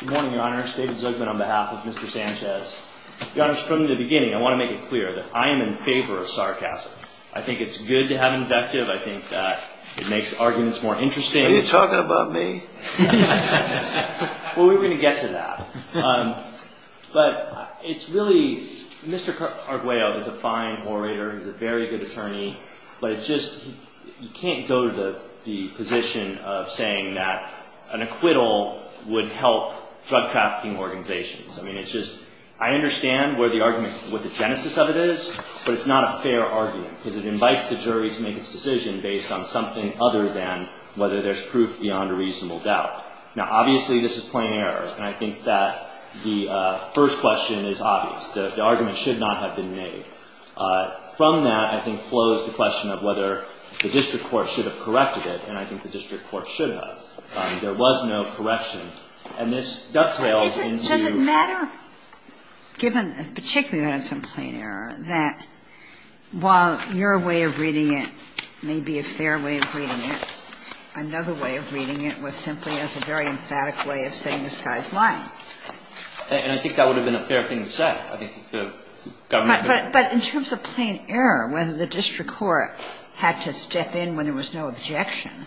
Good morning, Your Honors. David Zucman on behalf of Mr. Sanchez. Your Honors, from the beginning, I want to make it clear that I am in favor of sarcasm. I think it's good to have invective. I think that it makes arguments more interesting. Are you talking about me? Well, we're going to get to that. But it's really, Mr. Carguello is a fine orator. He's a very good attorney. But it's just you can't go to the position of saying that an acquittal would help drug trafficking organizations. I mean, it's just I understand where the argument, what the genesis of it is. But it's not a fair argument because it invites the jury to make its decision based on something other than whether there's proof beyond a reasonable doubt. Now, obviously, this is plain error. And I think that the first question is obvious. The argument should not have been made. From that, I think, flows the question of whether the district court should have corrected it. And I think the district court should have. There was no correction. And this dovetails into- Does it matter, given particularly that it's in plain error, that while your way of reading it may be a fair way of reading it, another way of reading it was simply as a very emphatic way of saying this guy's lying? And I think that would have been a fair thing to say. I think the government- But in terms of plain error, whether the district court had to step in when there was no objection,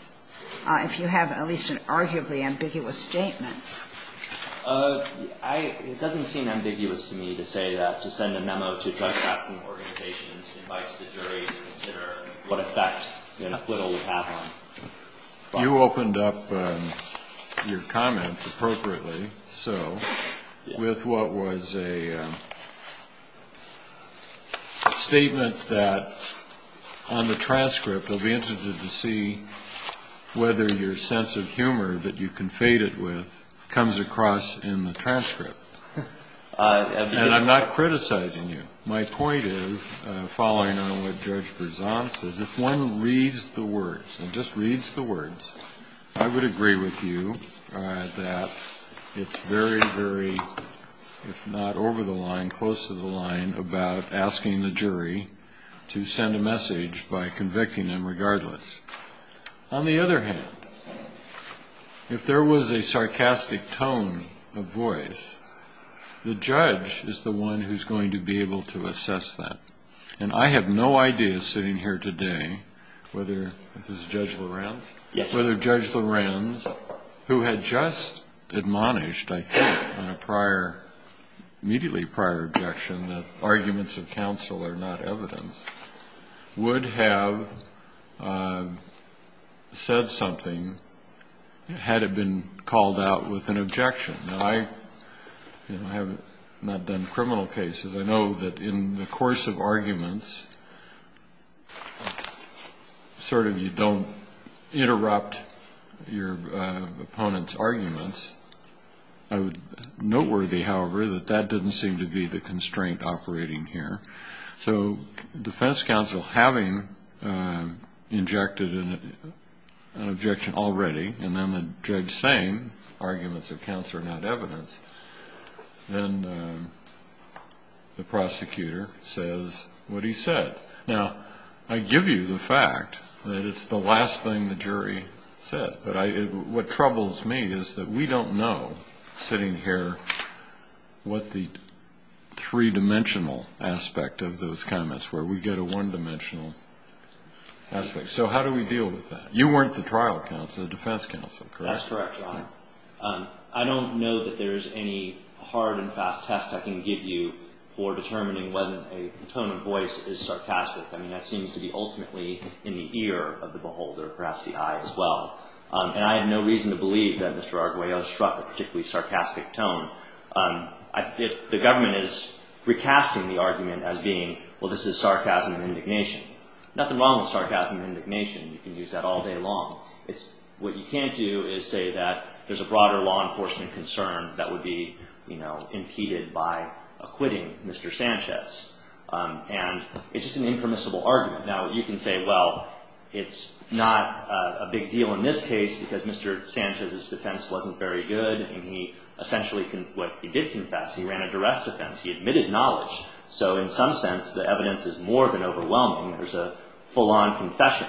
if you have at least an arguably ambiguous statement- It doesn't seem ambiguous to me to say that, to send a memo to drug trafficking organizations, invites the jury to consider what effect an acquittal would have on- You opened up your comments appropriately, so, with what was a statement that on the transcript, they'll be interested to see whether your sense of humor that you confated with comes across in the transcript. And I'm not criticizing you. My point is, following on what Judge Berzant says, if one reads the words, and just reads the words, I would agree with you that it's very, very, if not over the line, close to the line, about asking the jury to send a message by convicting them regardless. On the other hand, if there was a sarcastic tone of voice, the judge is the one who's going to be able to assess that. And I have no idea, sitting here today, whether- Is this Judge Lorenz? Yes. Whether Judge Lorenz, who had just admonished, I think, on a prior, immediately prior objection, that arguments of counsel are not evidence, would have said something had it been called out with an objection. Now, I have not done criminal cases. I know that in the course of arguments, sort of you don't interrupt your opponent's arguments. Noteworthy, however, that that doesn't seem to be the constraint operating here. So, defense counsel having injected an objection already, and then the judge saying arguments of counsel are not evidence, then the prosecutor says what he said. Now, I give you the fact that it's the last thing the jury said. But what troubles me is that we don't know, sitting here, what the three-dimensional aspect of those comments were. We get a one-dimensional aspect. So how do we deal with that? You weren't the trial counsel, the defense counsel, correct? That's correct, Your Honor. I don't know that there's any hard and fast test I can give you for determining whether a tone of voice is sarcastic. I mean, that seems to be ultimately in the ear of the beholder, perhaps the eye as well. And I have no reason to believe that Mr. Arguello struck a particularly sarcastic tone. The government is recasting the argument as being, well, this is sarcasm and indignation. Nothing wrong with sarcasm and indignation. You can use that all day long. What you can't do is say that there's a broader law enforcement concern that would be impeded by acquitting Mr. Sanchez. And it's just an impermissible argument. Now, you can say, well, it's not a big deal in this case because Mr. Sanchez's defense wasn't very good. And he essentially, what he did confess, he ran a duress defense. He admitted knowledge. So in some sense, the evidence is more than overwhelming. There's a full-on confession.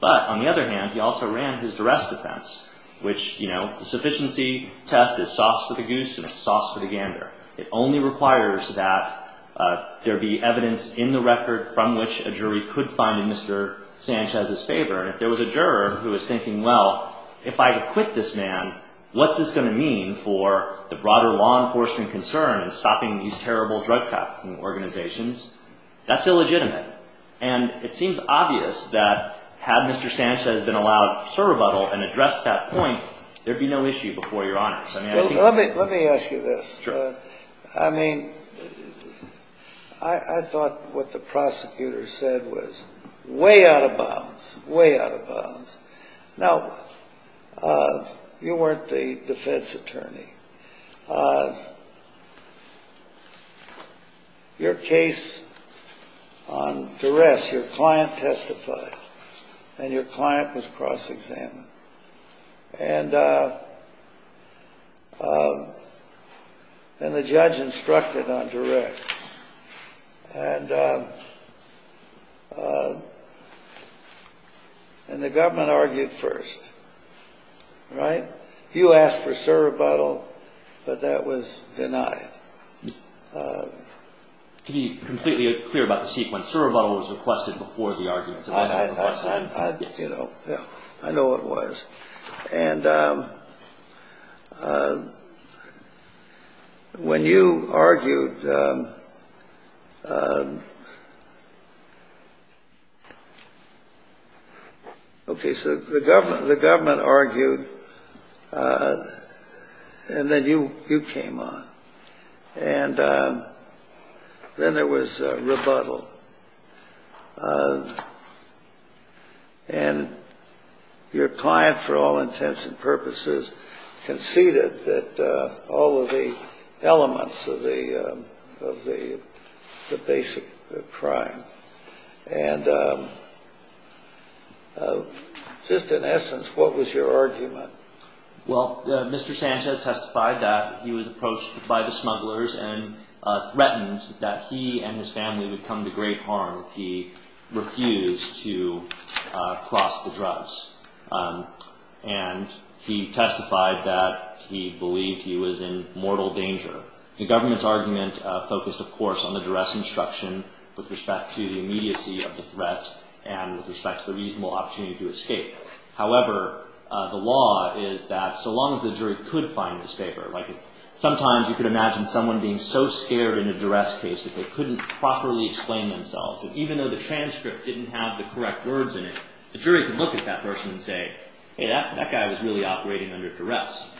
But on the other hand, he also ran his duress defense, which, you know, the sufficiency test is soft for the goose and it's soft for the gander. It only requires that there be evidence in the record from which a jury could find in Mr. Sanchez's favor. And if there was a juror who was thinking, well, if I acquit this man, what's this going to mean for the broader law enforcement concern in stopping these terrible drug trafficking organizations? That's illegitimate. And it seems obvious that had Mr. Sanchez been allowed to rebuttal and address that point, there'd be no issue before Your Honor. Let me ask you this. Sure. I mean, I thought what the prosecutor said was way out of bounds, way out of bounds. Now, you weren't the defense attorney. Your case on duress, your client testified and your client was cross-examined. And the judge instructed on duress. And the government argued first. Right? You asked for a surrebuttal, but that was denied. To be completely clear about the sequence, surrebuttal was requested before the arguments. I know it was. And when you argued, okay, so the government argued and then you came on. And then there was rebuttal. And your client, for all intents and purposes, conceded that all of the elements of the basic crime. And just in essence, what was your argument? Well, Mr. Sanchez testified that he was approached by the smugglers and threatened that he and his family would come to great harm if he refused to cross the drugs. And he testified that he believed he was in mortal danger. The government's argument focused, of course, on the duress instruction with respect to the immediacy of the threat and with respect to the reasonable opportunity to escape. However, the law is that so long as the jury could find this paper, like sometimes you could imagine someone being so scared in a duress case that they couldn't properly explain themselves. And even though the transcript didn't have the correct words in it, the jury could look at that person and say, hey, that guy was really operating under duress.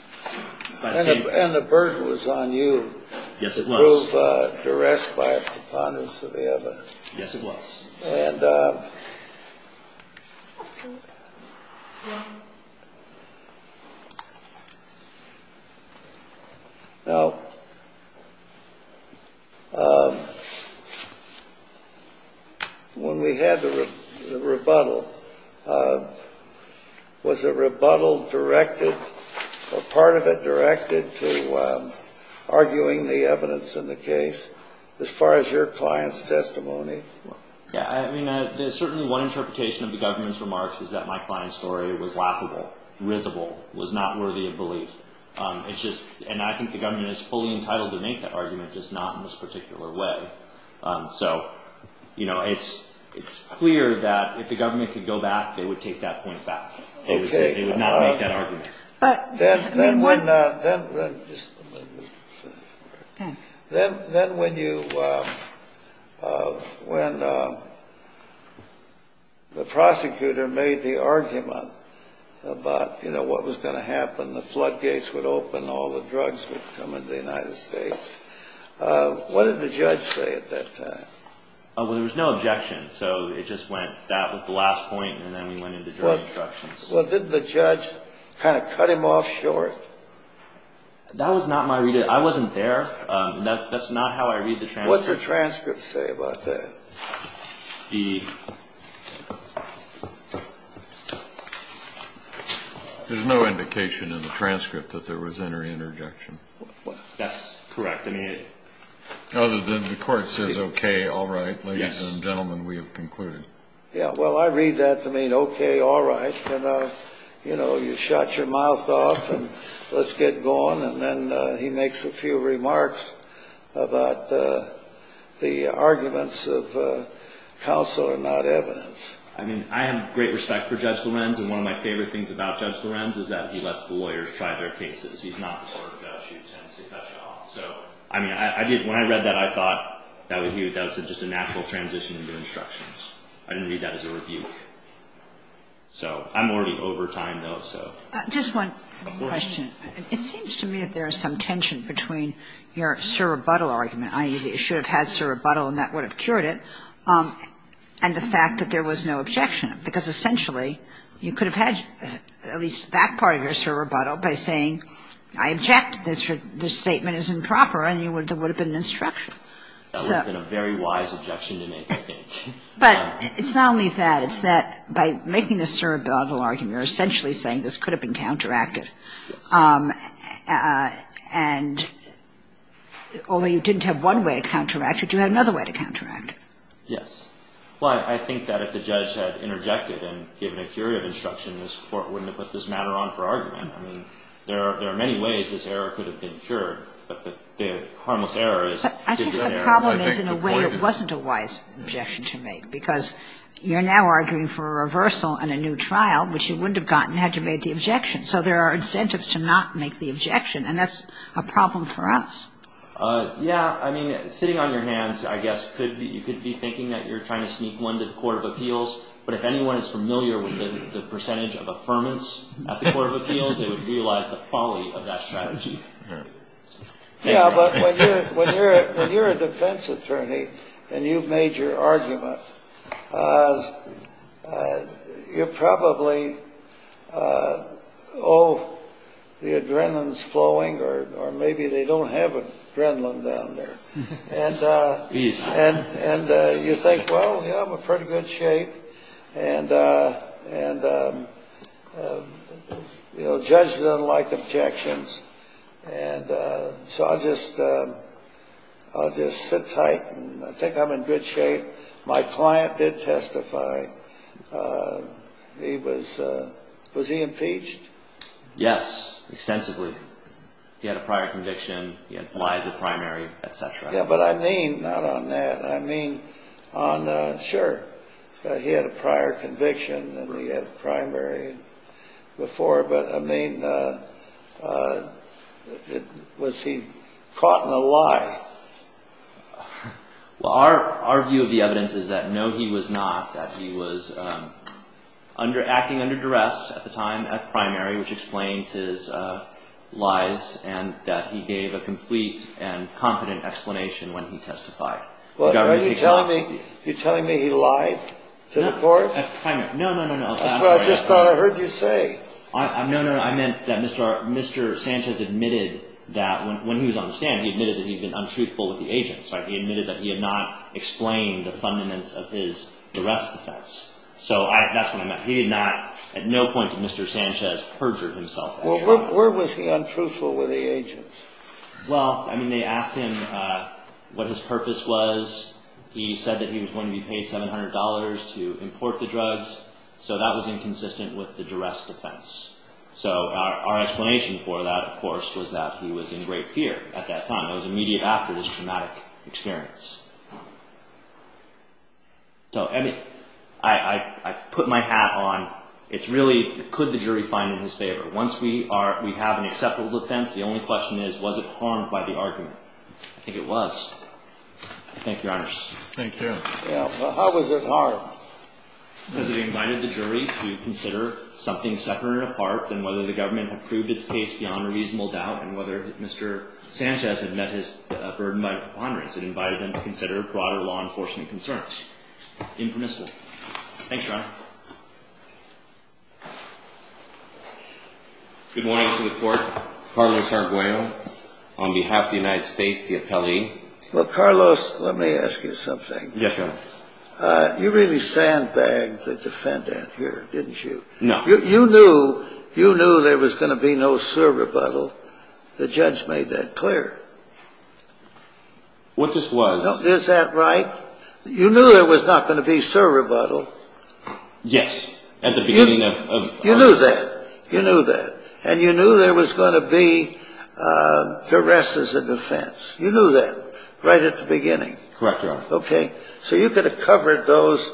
And the burden was on you. Yes, it was. To prove duress by a preponderance of the evidence. Yes, it was. And now, when we had the rebuttal, was a rebuttal directed or part of it directed to arguing the evidence in the case as far as your client's testimony? Yeah, I mean, there's certainly one interpretation of the government's remarks is that my client's story was laughable, risible, was not worthy of belief. It's just and I think the government is fully entitled to make that argument, just not in this particular way. So, you know, it's it's clear that if the government could go back, they would take that point back. They would not make that argument. Then when the prosecutor made the argument about, you know, what was going to happen, the floodgates would open, all the drugs would come into the United States. What did the judge say at that time? Well, there was no objection. So it just went that was the last point. And then we went into jury instructions. Well, did the judge kind of cut him off short? That was not my reading. I wasn't there. That's not how I read the transcript. What's the transcript say about that? There's no indication in the transcript that there was any interjection. That's correct. Other than the court says, OK, all right, ladies and gentlemen, we have concluded. Yeah, well, I read that to mean OK, all right. And, you know, you shut your mouth off and let's get going. And then he makes a few remarks about the arguments of counsel and not evidence. I mean, I have great respect for Judge Lorenz. And one of my favorite things about Judge Lorenz is that he lets the lawyers try their cases. He's not the sort of judge who tends to cut you off. So, I mean, I did. When I read that, I thought that was just a natural transition into instructions. I didn't read that as a rebuke. So I'm already over time, though, so. Just one question. It seems to me that there is some tension between your sur rebuttal argument, i.e., that you should have had sur rebuttal and that would have cured it, and the fact that there was no objection. Because, essentially, you could have had at least that part of your sur rebuttal by saying I object, this statement is improper, and there would have been an instruction. That would have been a very wise objection to make, I think. But it's not only that. It's that by making the sur rebuttal argument, you're essentially saying this could have been counteracted. And only you didn't have one way to counteract it. You had another way to counteract it. Yes. Well, I think that if the judge had interjected and given a curative instruction, this Court wouldn't have put this matter on for argument. I mean, there are many ways this error could have been cured, but the harmless error is I think the problem is in a way it wasn't a wise objection to make, because you're now arguing for a reversal and a new trial, which you wouldn't have gotten had you made the objection. So there are incentives to not make the objection, and that's a problem for us. Yeah. I mean, sitting on your hands, I guess, you could be thinking that you're trying to sneak one to the court of appeals, but if anyone is familiar with the percentage of affirmance at the court of appeals, they would realize the folly of that strategy. Yeah, but when you're a defense attorney and you've made your argument, you probably owe the adrenaline's flowing, or maybe they don't have adrenaline down there. And you think, well, yeah, I'm in pretty good shape. And judges don't like objections, and so I'll just sit tight and I think I'm in good shape. My client did testify. Was he impeached? Yes, extensively. He had a prior conviction. He had flies at primary, et cetera. Yeah, but I mean not on that. I mean, sure, he had a prior conviction and he had primary before, but I mean, was he caught in a lie? Well, our view of the evidence is that no, he was not, that he was acting under duress at the time at primary, which explains his lies, and that he gave a complete and competent explanation when he testified. Well, are you telling me he lied to the court? No, no, no, no. That's what I just thought I heard you say. No, no, no. I meant that Mr. Sanchez admitted that when he was on the stand, he admitted that he'd been untruthful with the agents. He admitted that he had not explained the fundaments of his duress defense. So that's what I meant. He did not, at no point did Mr. Sanchez perjure himself. Well, where was he untruthful with the agents? Well, I mean, they asked him what his purpose was. He said that he was going to be paid $700 to import the drugs, so that was inconsistent with the duress defense. So our explanation for that, of course, was that he was in great fear at that time. It was immediate after this traumatic experience. So, I mean, I put my hat on. It's really, could the jury find it in his favor? Once we have an acceptable defense, the only question is, was it harmed by the argument? I think it was. Thank you, Your Honor. Thank you. Well, how was it harmed? Because it invited the jury to consider something separate and apart than whether the government had proved its case beyond a reasonable doubt and whether Mr. Sanchez had met his burden by preponderance. Impermissible. Thanks, Your Honor. Good morning to the court. Carlos Arguello on behalf of the United States, the appellee. Well, Carlos, let me ask you something. Yes, Your Honor. You really sandbagged the defendant here, didn't you? No. You knew there was going to be no serve rebuttal. The judge made that clear. What this was... Is that right? You knew there was not going to be serve rebuttal. Yes, at the beginning of... You knew that. You knew that. And you knew there was going to be duress as a defense. You knew that right at the beginning. Correct, Your Honor. Okay. So you could have covered those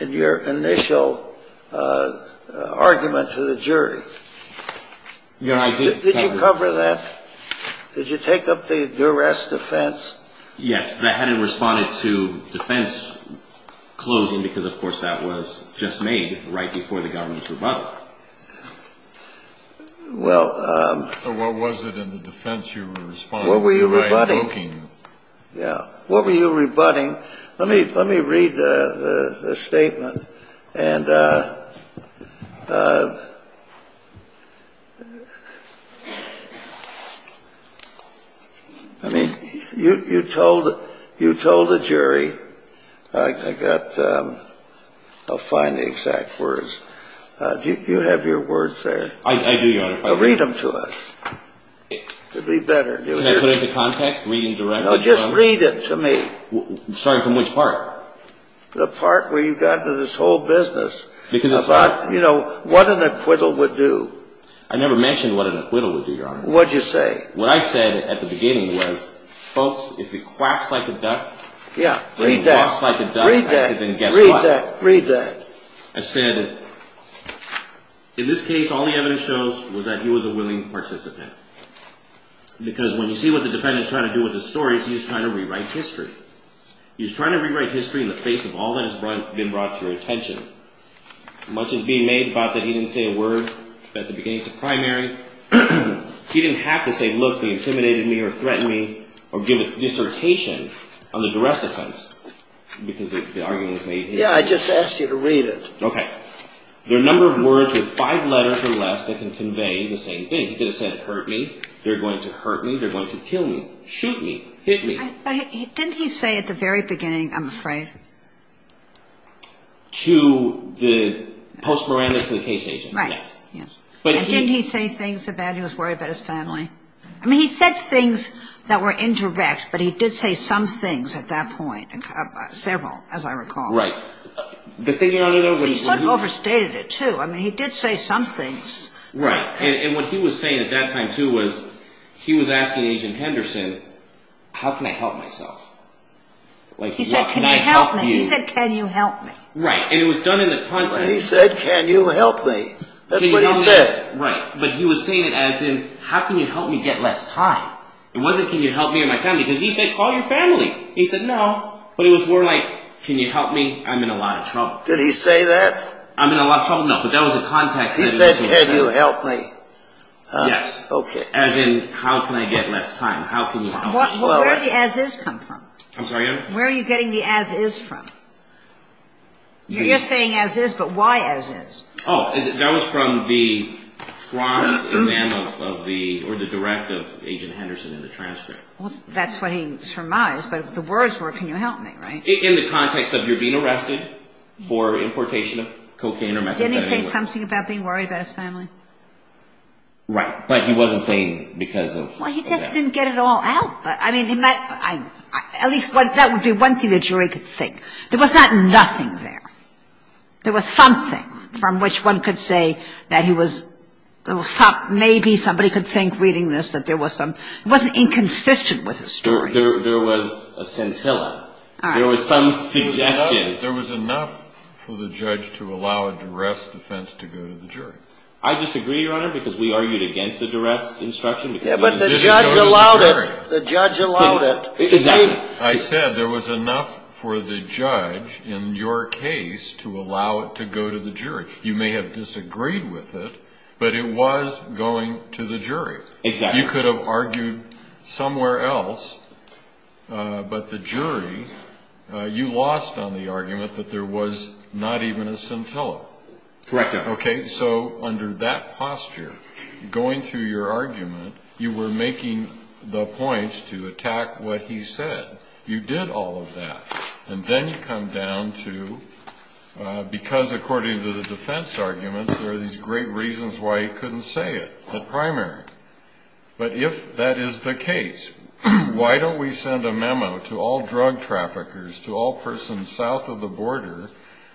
in your initial argument to the jury. Did you cover that? Did you take up the duress defense? Yes, but I hadn't responded to defense closing because, of course, that was just made right before the government's rebuttal. Well... So what was it in the defense you responded to by invoking... What were you rebutting? Yeah. What were you rebutting? Let me read the statement. And... I mean, you told the jury. I got... I'll find the exact words. Do you have your words there? I do, Your Honor. Read them to us. It would be better if you... Can I put it into context? Read it directly? No, just read it to me. Starting from which part? The part where you got into this whole business. Because it's not... About, you know, what an acquittal would do. I never mentioned what an acquittal would do, Your Honor. What'd you say? What I said at the beginning was, folks, if it quacks like a duck... Yeah, read that. If it quacks like a duck... Read that. I said, then guess what? Read that. I said, in this case, all the evidence shows was that he was a willing participant. Because when you see what the defendant's trying to do with the stories, he's trying to rewrite history. He's trying to rewrite history in the face of all that has been brought to your attention. Much is being made about that he didn't say a word at the beginning of the primary. He didn't have to say, look, they intimidated me or threatened me, or give a dissertation on the jurisdictions, because the argument was made here. Yeah, I just asked you to read it. Okay. There are a number of words with five letters or less that can convey the same thing. He could have said, hurt me, they're going to hurt me, they're going to kill me, shoot me, hit me. But didn't he say at the very beginning, I'm afraid? To the post-morandum to the case agent. Right. Didn't he say things about he was worried about his family? I mean, he said things that were indirect, but he did say some things at that point, several, as I recall. Right. He sort of overstated it, too. I mean, he did say some things. Right, and what he was saying at that time, too, was he was asking Agent Henderson, how can I help myself? He said, can you help me? Right, and it was done in the context. He said, can you help me? That's what he said. Right, but he was saying it as in, how can you help me get less time? It wasn't, can you help me and my family? Because he said, call your family. He said, no. But it was more like, can you help me? I'm in a lot of trouble. Did he say that? I'm in a lot of trouble? No, but that was the context. He said, can you help me? Yes. Okay. As in, how can I get less time? How can you help me? Well, where did the as is come from? I'm sorry? Where are you getting the as is from? You're just saying as is, but why as is? Oh, that was from the cross exam of the, or the direct of Agent Henderson in the transcript. Well, that's what he surmised, but the words were, can you help me, right? In the context of you're being arrested for importation of cocaine or methadone. Didn't he say something about being worried about his family? Right. But he wasn't saying because of that. Well, he just didn't get it all out. But, I mean, at least that would be one thing the jury could think. There was not nothing there. There was something from which one could say that he was, maybe somebody could think reading this that there was some, it wasn't inconsistent with his story. There was a scintilla. All right. There was some suggestion. There was enough for the judge to allow a duress defense to go to the jury. I disagree, Your Honor, because we argued against the duress instruction. Yeah, but the judge allowed it. The judge allowed it. Exactly. I said there was enough for the judge in your case to allow it to go to the jury. You may have disagreed with it, but it was going to the jury. Exactly. You could have argued somewhere else, but the jury, you lost on the argument that there was not even a scintilla. Correct, Your Honor. Okay, so under that posture, going through your argument, you were making the points to attack what he said. You did all of that. And then you come down to, because according to the defense arguments, there are these great reasons why he couldn't say it at primary. But if that is the case, why don't we send a memo to all drug traffickers, to all persons south of the border,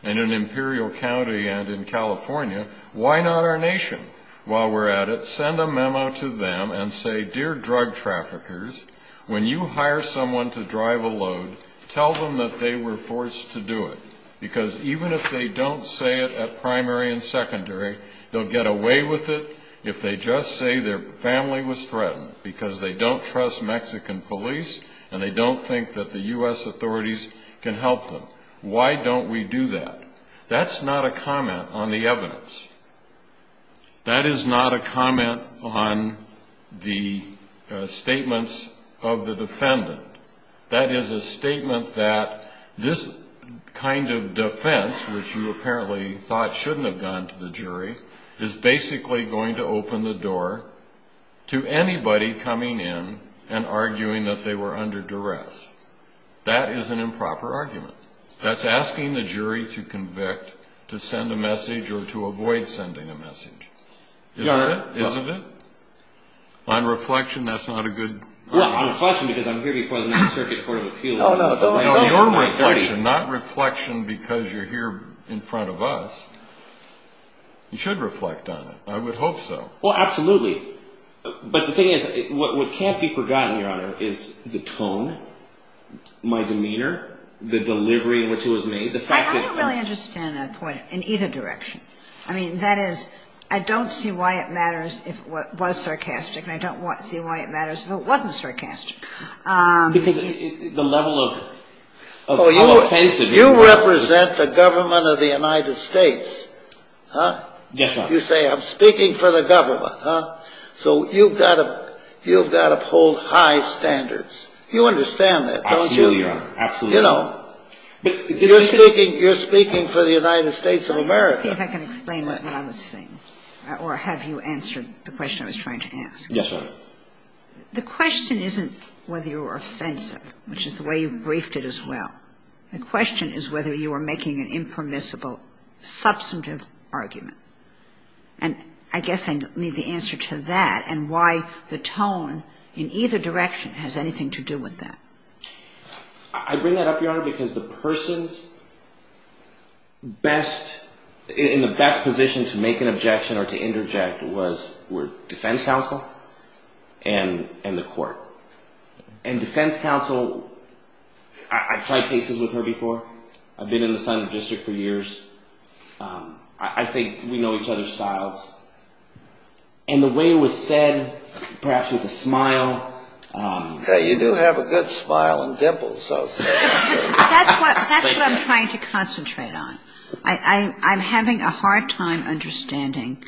and in Imperial County and in California, why not our nation? While we're at it, send a memo to them and say, dear drug traffickers, when you hire someone to drive a load, tell them that they were forced to do it. Because even if they don't say it at primary and secondary, they'll get away with it if they just say their family was threatened because they don't trust Mexican police and they don't think that the U.S. authorities can help them. Why don't we do that? That's not a comment on the evidence. That is not a comment on the statements of the defendant. That is a statement that this kind of defense, which you apparently thought shouldn't have gone to the jury, is basically going to open the door to anybody coming in and arguing that they were under duress. That is an improper argument. That's asking the jury to convict, to send a message, or to avoid sending a message. Isn't it? On reflection, that's not a good argument. On reflection, because I'm here before the Ninth Circuit Court of Appeals. Your reflection, not reflection because you're here in front of us. You should reflect on it. I would hope so. Well, absolutely. But the thing is, what can't be forgotten, Your Honor, is the tone, my demeanor, the delivery in which it was made. I don't really understand that point in either direction. I mean, that is, I don't see why it matters if it was sarcastic, and I don't see why it matters if it wasn't sarcastic. Because the level of how offensive it was. You represent the government of the United States. Yes, Your Honor. You say, I'm speaking for the government. So you've got to uphold high standards. You understand that, don't you? Absolutely, Your Honor. You know, you're speaking for the United States of America. See if I can explain what I'm saying, or have you answered the question I was trying to ask? Yes, Your Honor. The question isn't whether you were offensive, which is the way you briefed it as well. The question is whether you were making an impermissible, substantive argument. And I guess I need the answer to that, and why the tone in either direction has anything to do with that. I bring that up, Your Honor, because the person's best, in the best position to make an objection or to interject were defense counsel and the court. And defense counsel, I've tried cases with her before. I've been in the Senate district for years. I think we know each other's styles. And the way it was said, perhaps with a smile. You do have a good smile and dimples. That's what I'm trying to concentrate on. I'm having a hard time understanding.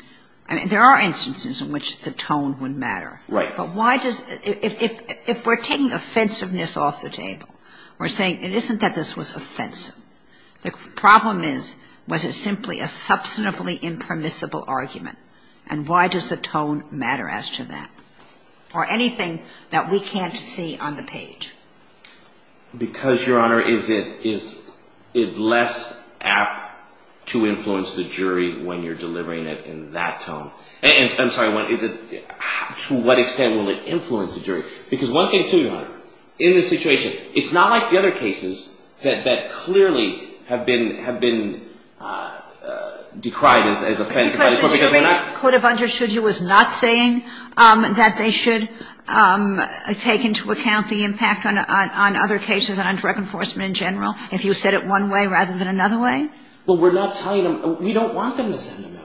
I mean, there are instances in which the tone would matter. Right. But why does, if we're taking offensiveness off the table, we're saying it isn't that this was offensive. The problem is, was it simply a substantively impermissible argument? And why does the tone matter as to that? Or anything that we can't see on the page? Because, Your Honor, is it less apt to influence the jury when you're delivering it in that tone? And I'm sorry, to what extent will it influence the jury? Because one thing, too, Your Honor, in this situation, it's not like the other cases that clearly have been decried as offensive. Because the jury could have understood you as not saying that they should take into account the impact on other cases and on direct enforcement in general, if you said it one way rather than another way. But we're not telling them. We don't want them to send a memo.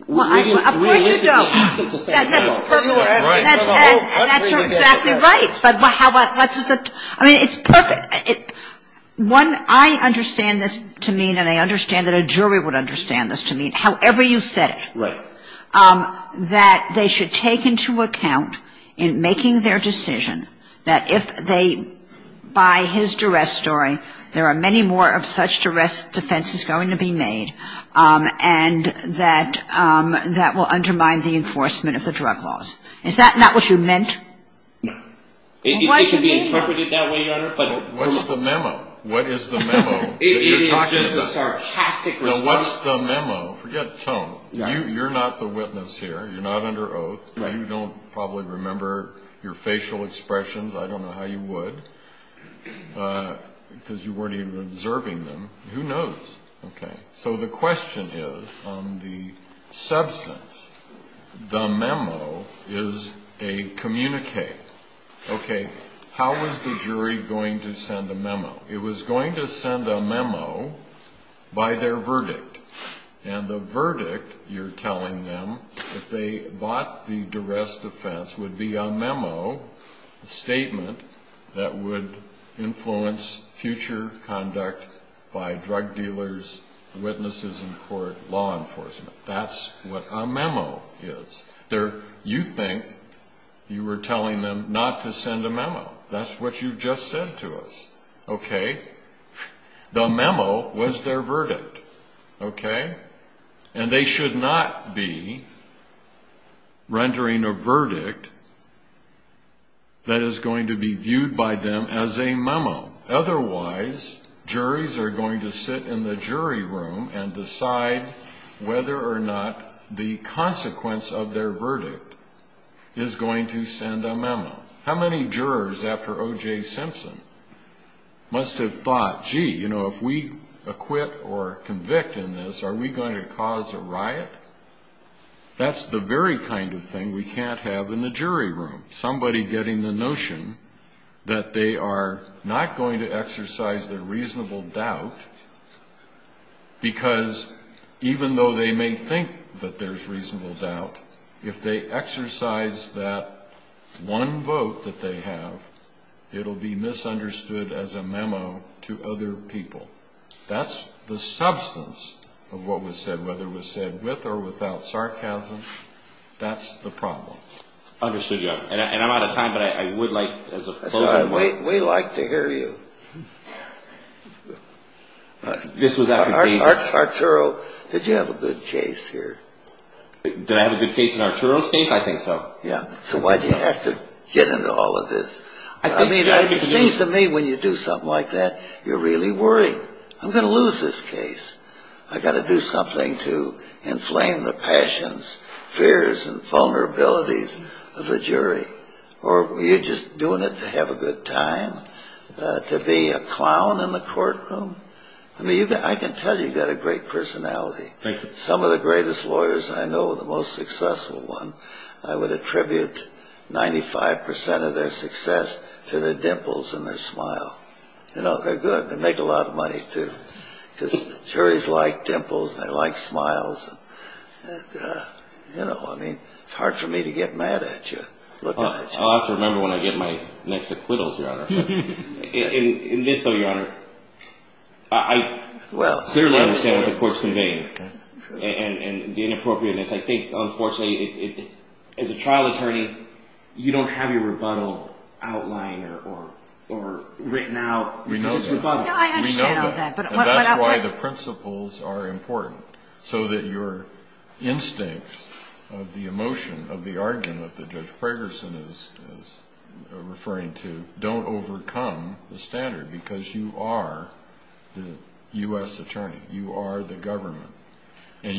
Of course you don't. We didn't realistically ask them to send a memo. That's right. That's exactly right. But how about, let's just, I mean, it's perfect. One, I understand this to mean, and I understand that a jury would understand this to mean, however you said it. Right. That they should take into account in making their decision that if they buy his duress story, there are many more of such duress defenses going to be made, and that that will undermine the enforcement of the drug laws. Is that not what you meant? No. It should be interpreted that way, Your Honor. But what's the memo? What is the memo that you're talking about? It is a sarcastic response. No, what's the memo? Forget tone. You're not the witness here. You're not under oath. You don't probably remember your facial expressions. I don't know how you would because you weren't even observing them. Who knows? Okay. So the question is on the substance, the memo is a communique. Okay. How is the jury going to send a memo? It was going to send a memo by their verdict. And the verdict, you're telling them, if they bought the duress defense, a statement that would influence future conduct by drug dealers, witnesses in court, law enforcement. That's what a memo is. You think you were telling them not to send a memo. That's what you just said to us. Okay. The memo was their verdict. Okay. And they should not be rendering a verdict that is going to be viewed by them as a memo. Otherwise, juries are going to sit in the jury room and decide whether or not the consequence of their verdict is going to send a memo. How many jurors after O.J. Simpson must have thought, gee, you know, if we acquit or convict in this, are we going to cause a riot? That's the very kind of thing we can't have in the jury room. the notion that they are not going to exercise their reasonable doubt because even though they may think that there's reasonable doubt, if they exercise that one vote that they have, it will be misunderstood as a memo to other people. That's the substance of what was said, whether it was said with or without sarcasm. That's the problem. Understood you. And I'm out of time, but I would like as a closing remark. We like to hear you. This was after days of... Arturo, did you have a good case here? Did I have a good case in Arturo's case? I think so. Yeah. So why'd you have to get into all of this? I mean, it seems to me when you do something like that, you're really worried. I'm going to lose this case. I've got to do something to inflame the passions, fears, and vulnerabilities of the jury. Or are you just doing it to have a good time, to be a clown in the courtroom? I mean, I can tell you've got a great personality. Thank you. Some of the greatest lawyers I know, the most successful one, I would attribute 95% of their success to their dimples and their smile. You know, they're good. They make a lot of money, too. Because juries like dimples. They like smiles. And, you know, I mean, it's hard for me to get mad at you. I'll have to remember when I get my next acquittals, Your Honor. In this, though, Your Honor, I clearly understand what the court's conveying and the inappropriateness. I think, unfortunately, as a trial attorney, you don't have your rebuttal outlined or written out because it's rebuttal. No, I understand all that. We know that. And that's why the principles are important, so that your instincts of the emotion of the argument that Judge Pragerson is referring to don't overcome the standard. Because you are the U.S. attorney. You are the government. And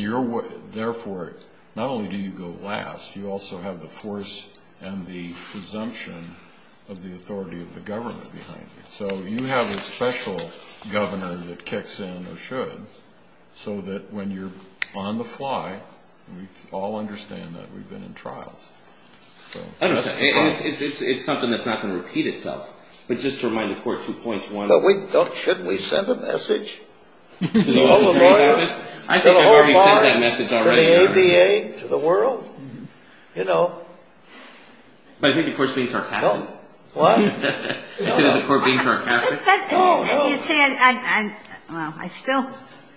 therefore, not only do you go last, you also have the force and the presumption of the authority of the government behind you. So you have a special governor that kicks in or should, so that when you're on the fly, we all understand that we've been in trials. It's something that's not going to repeat itself. But just to remind the court two points. Shouldn't we send a message to all the lawyers? I think I've already sent that message already. To the ADA? To the world? You know. But I think the court's being sarcastic. What? You said the court being sarcastic? Well, I still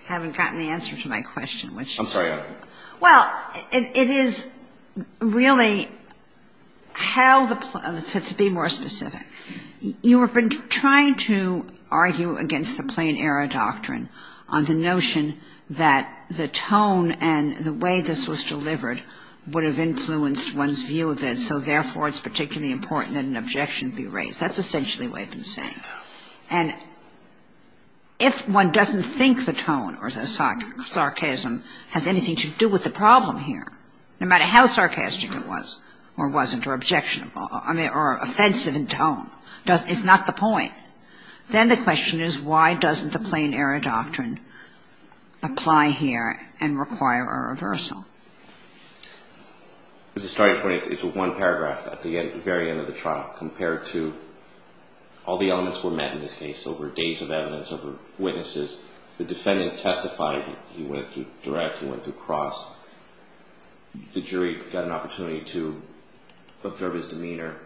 haven't gotten the answer to my question. I'm sorry. Well, it is really how the – to be more specific. You have been trying to argue against the plain error doctrine on the notion that the tone and the way this was delivered would have influenced one's view of it. And so, therefore, it's particularly important that an objection be raised. That's essentially what I've been saying. And if one doesn't think the tone or the sarcasm has anything to do with the problem here, no matter how sarcastic it was or wasn't or objectionable or offensive in tone, it's not the point. Then the question is, why doesn't the plain error doctrine apply here and require a reversal? As a starting point, it's one paragraph at the very end of the trial compared to all the elements were met in this case over days of evidence, over witnesses. The defendant testified. He went through direct. He went through cross. The jury got an opportunity to observe his demeanor.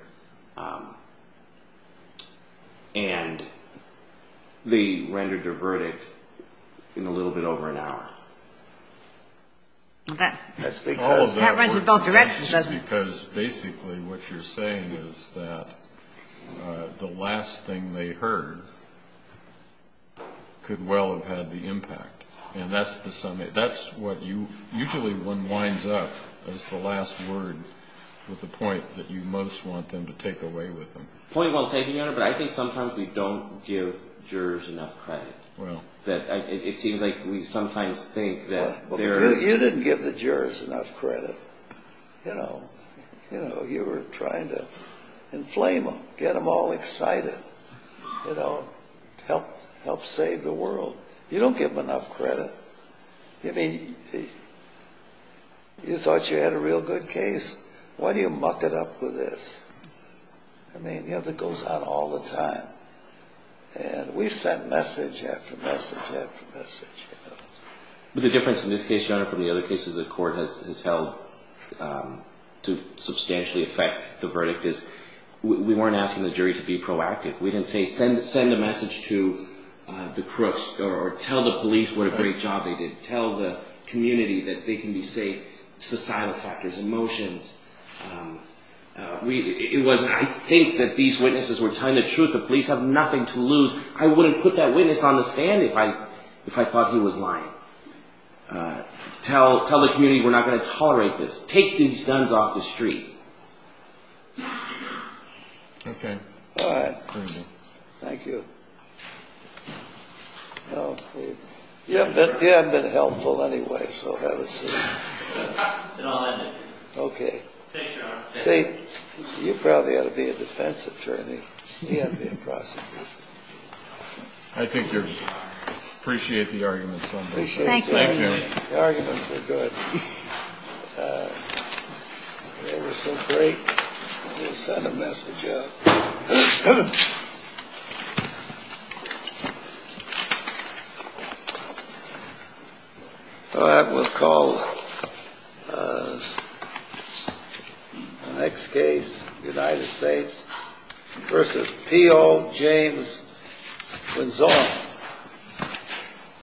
And they rendered their verdict in a little bit over an hour. That's because basically what you're saying is that the last thing they heard could well have had the impact. And that's the – that's what you – usually one winds up as the last word with the point that you most want them to take away with them. Point well taken, Your Honor. But I think sometimes we don't give jurors enough credit. Well. It seems like we sometimes think that they're – Well, you didn't give the jurors enough credit. You know. You know, you were trying to inflame them, get them all excited, you know, help save the world. You don't give them enough credit. I mean, you thought you had a real good case. Why do you muck it up with this? I mean, you know, that goes on all the time. And we've sent message after message after message, you know. But the difference in this case, Your Honor, from the other cases the court has held to substantially affect the verdict is we weren't asking the jury to be proactive. We didn't say send a message to the crooks or tell the police what a great job they did, tell the community that they can be safe, societal factors, emotions. It was – I think that these witnesses were telling the truth. The police have nothing to lose. I wouldn't put that witness on the stand if I thought he was lying. Tell the community we're not going to tolerate this. Take these guns off the street. Okay. All right. Thank you. You have been helpful anyway, so have a seat. And I'll end it. Okay. Thanks, Your Honor. See, you probably ought to be a defense attorney. He ought to be a prosecutor. I think you're – appreciate the arguments on both sides. Thank you. Thank you. The arguments were good. They were so great. We'll send a message out. Thank you.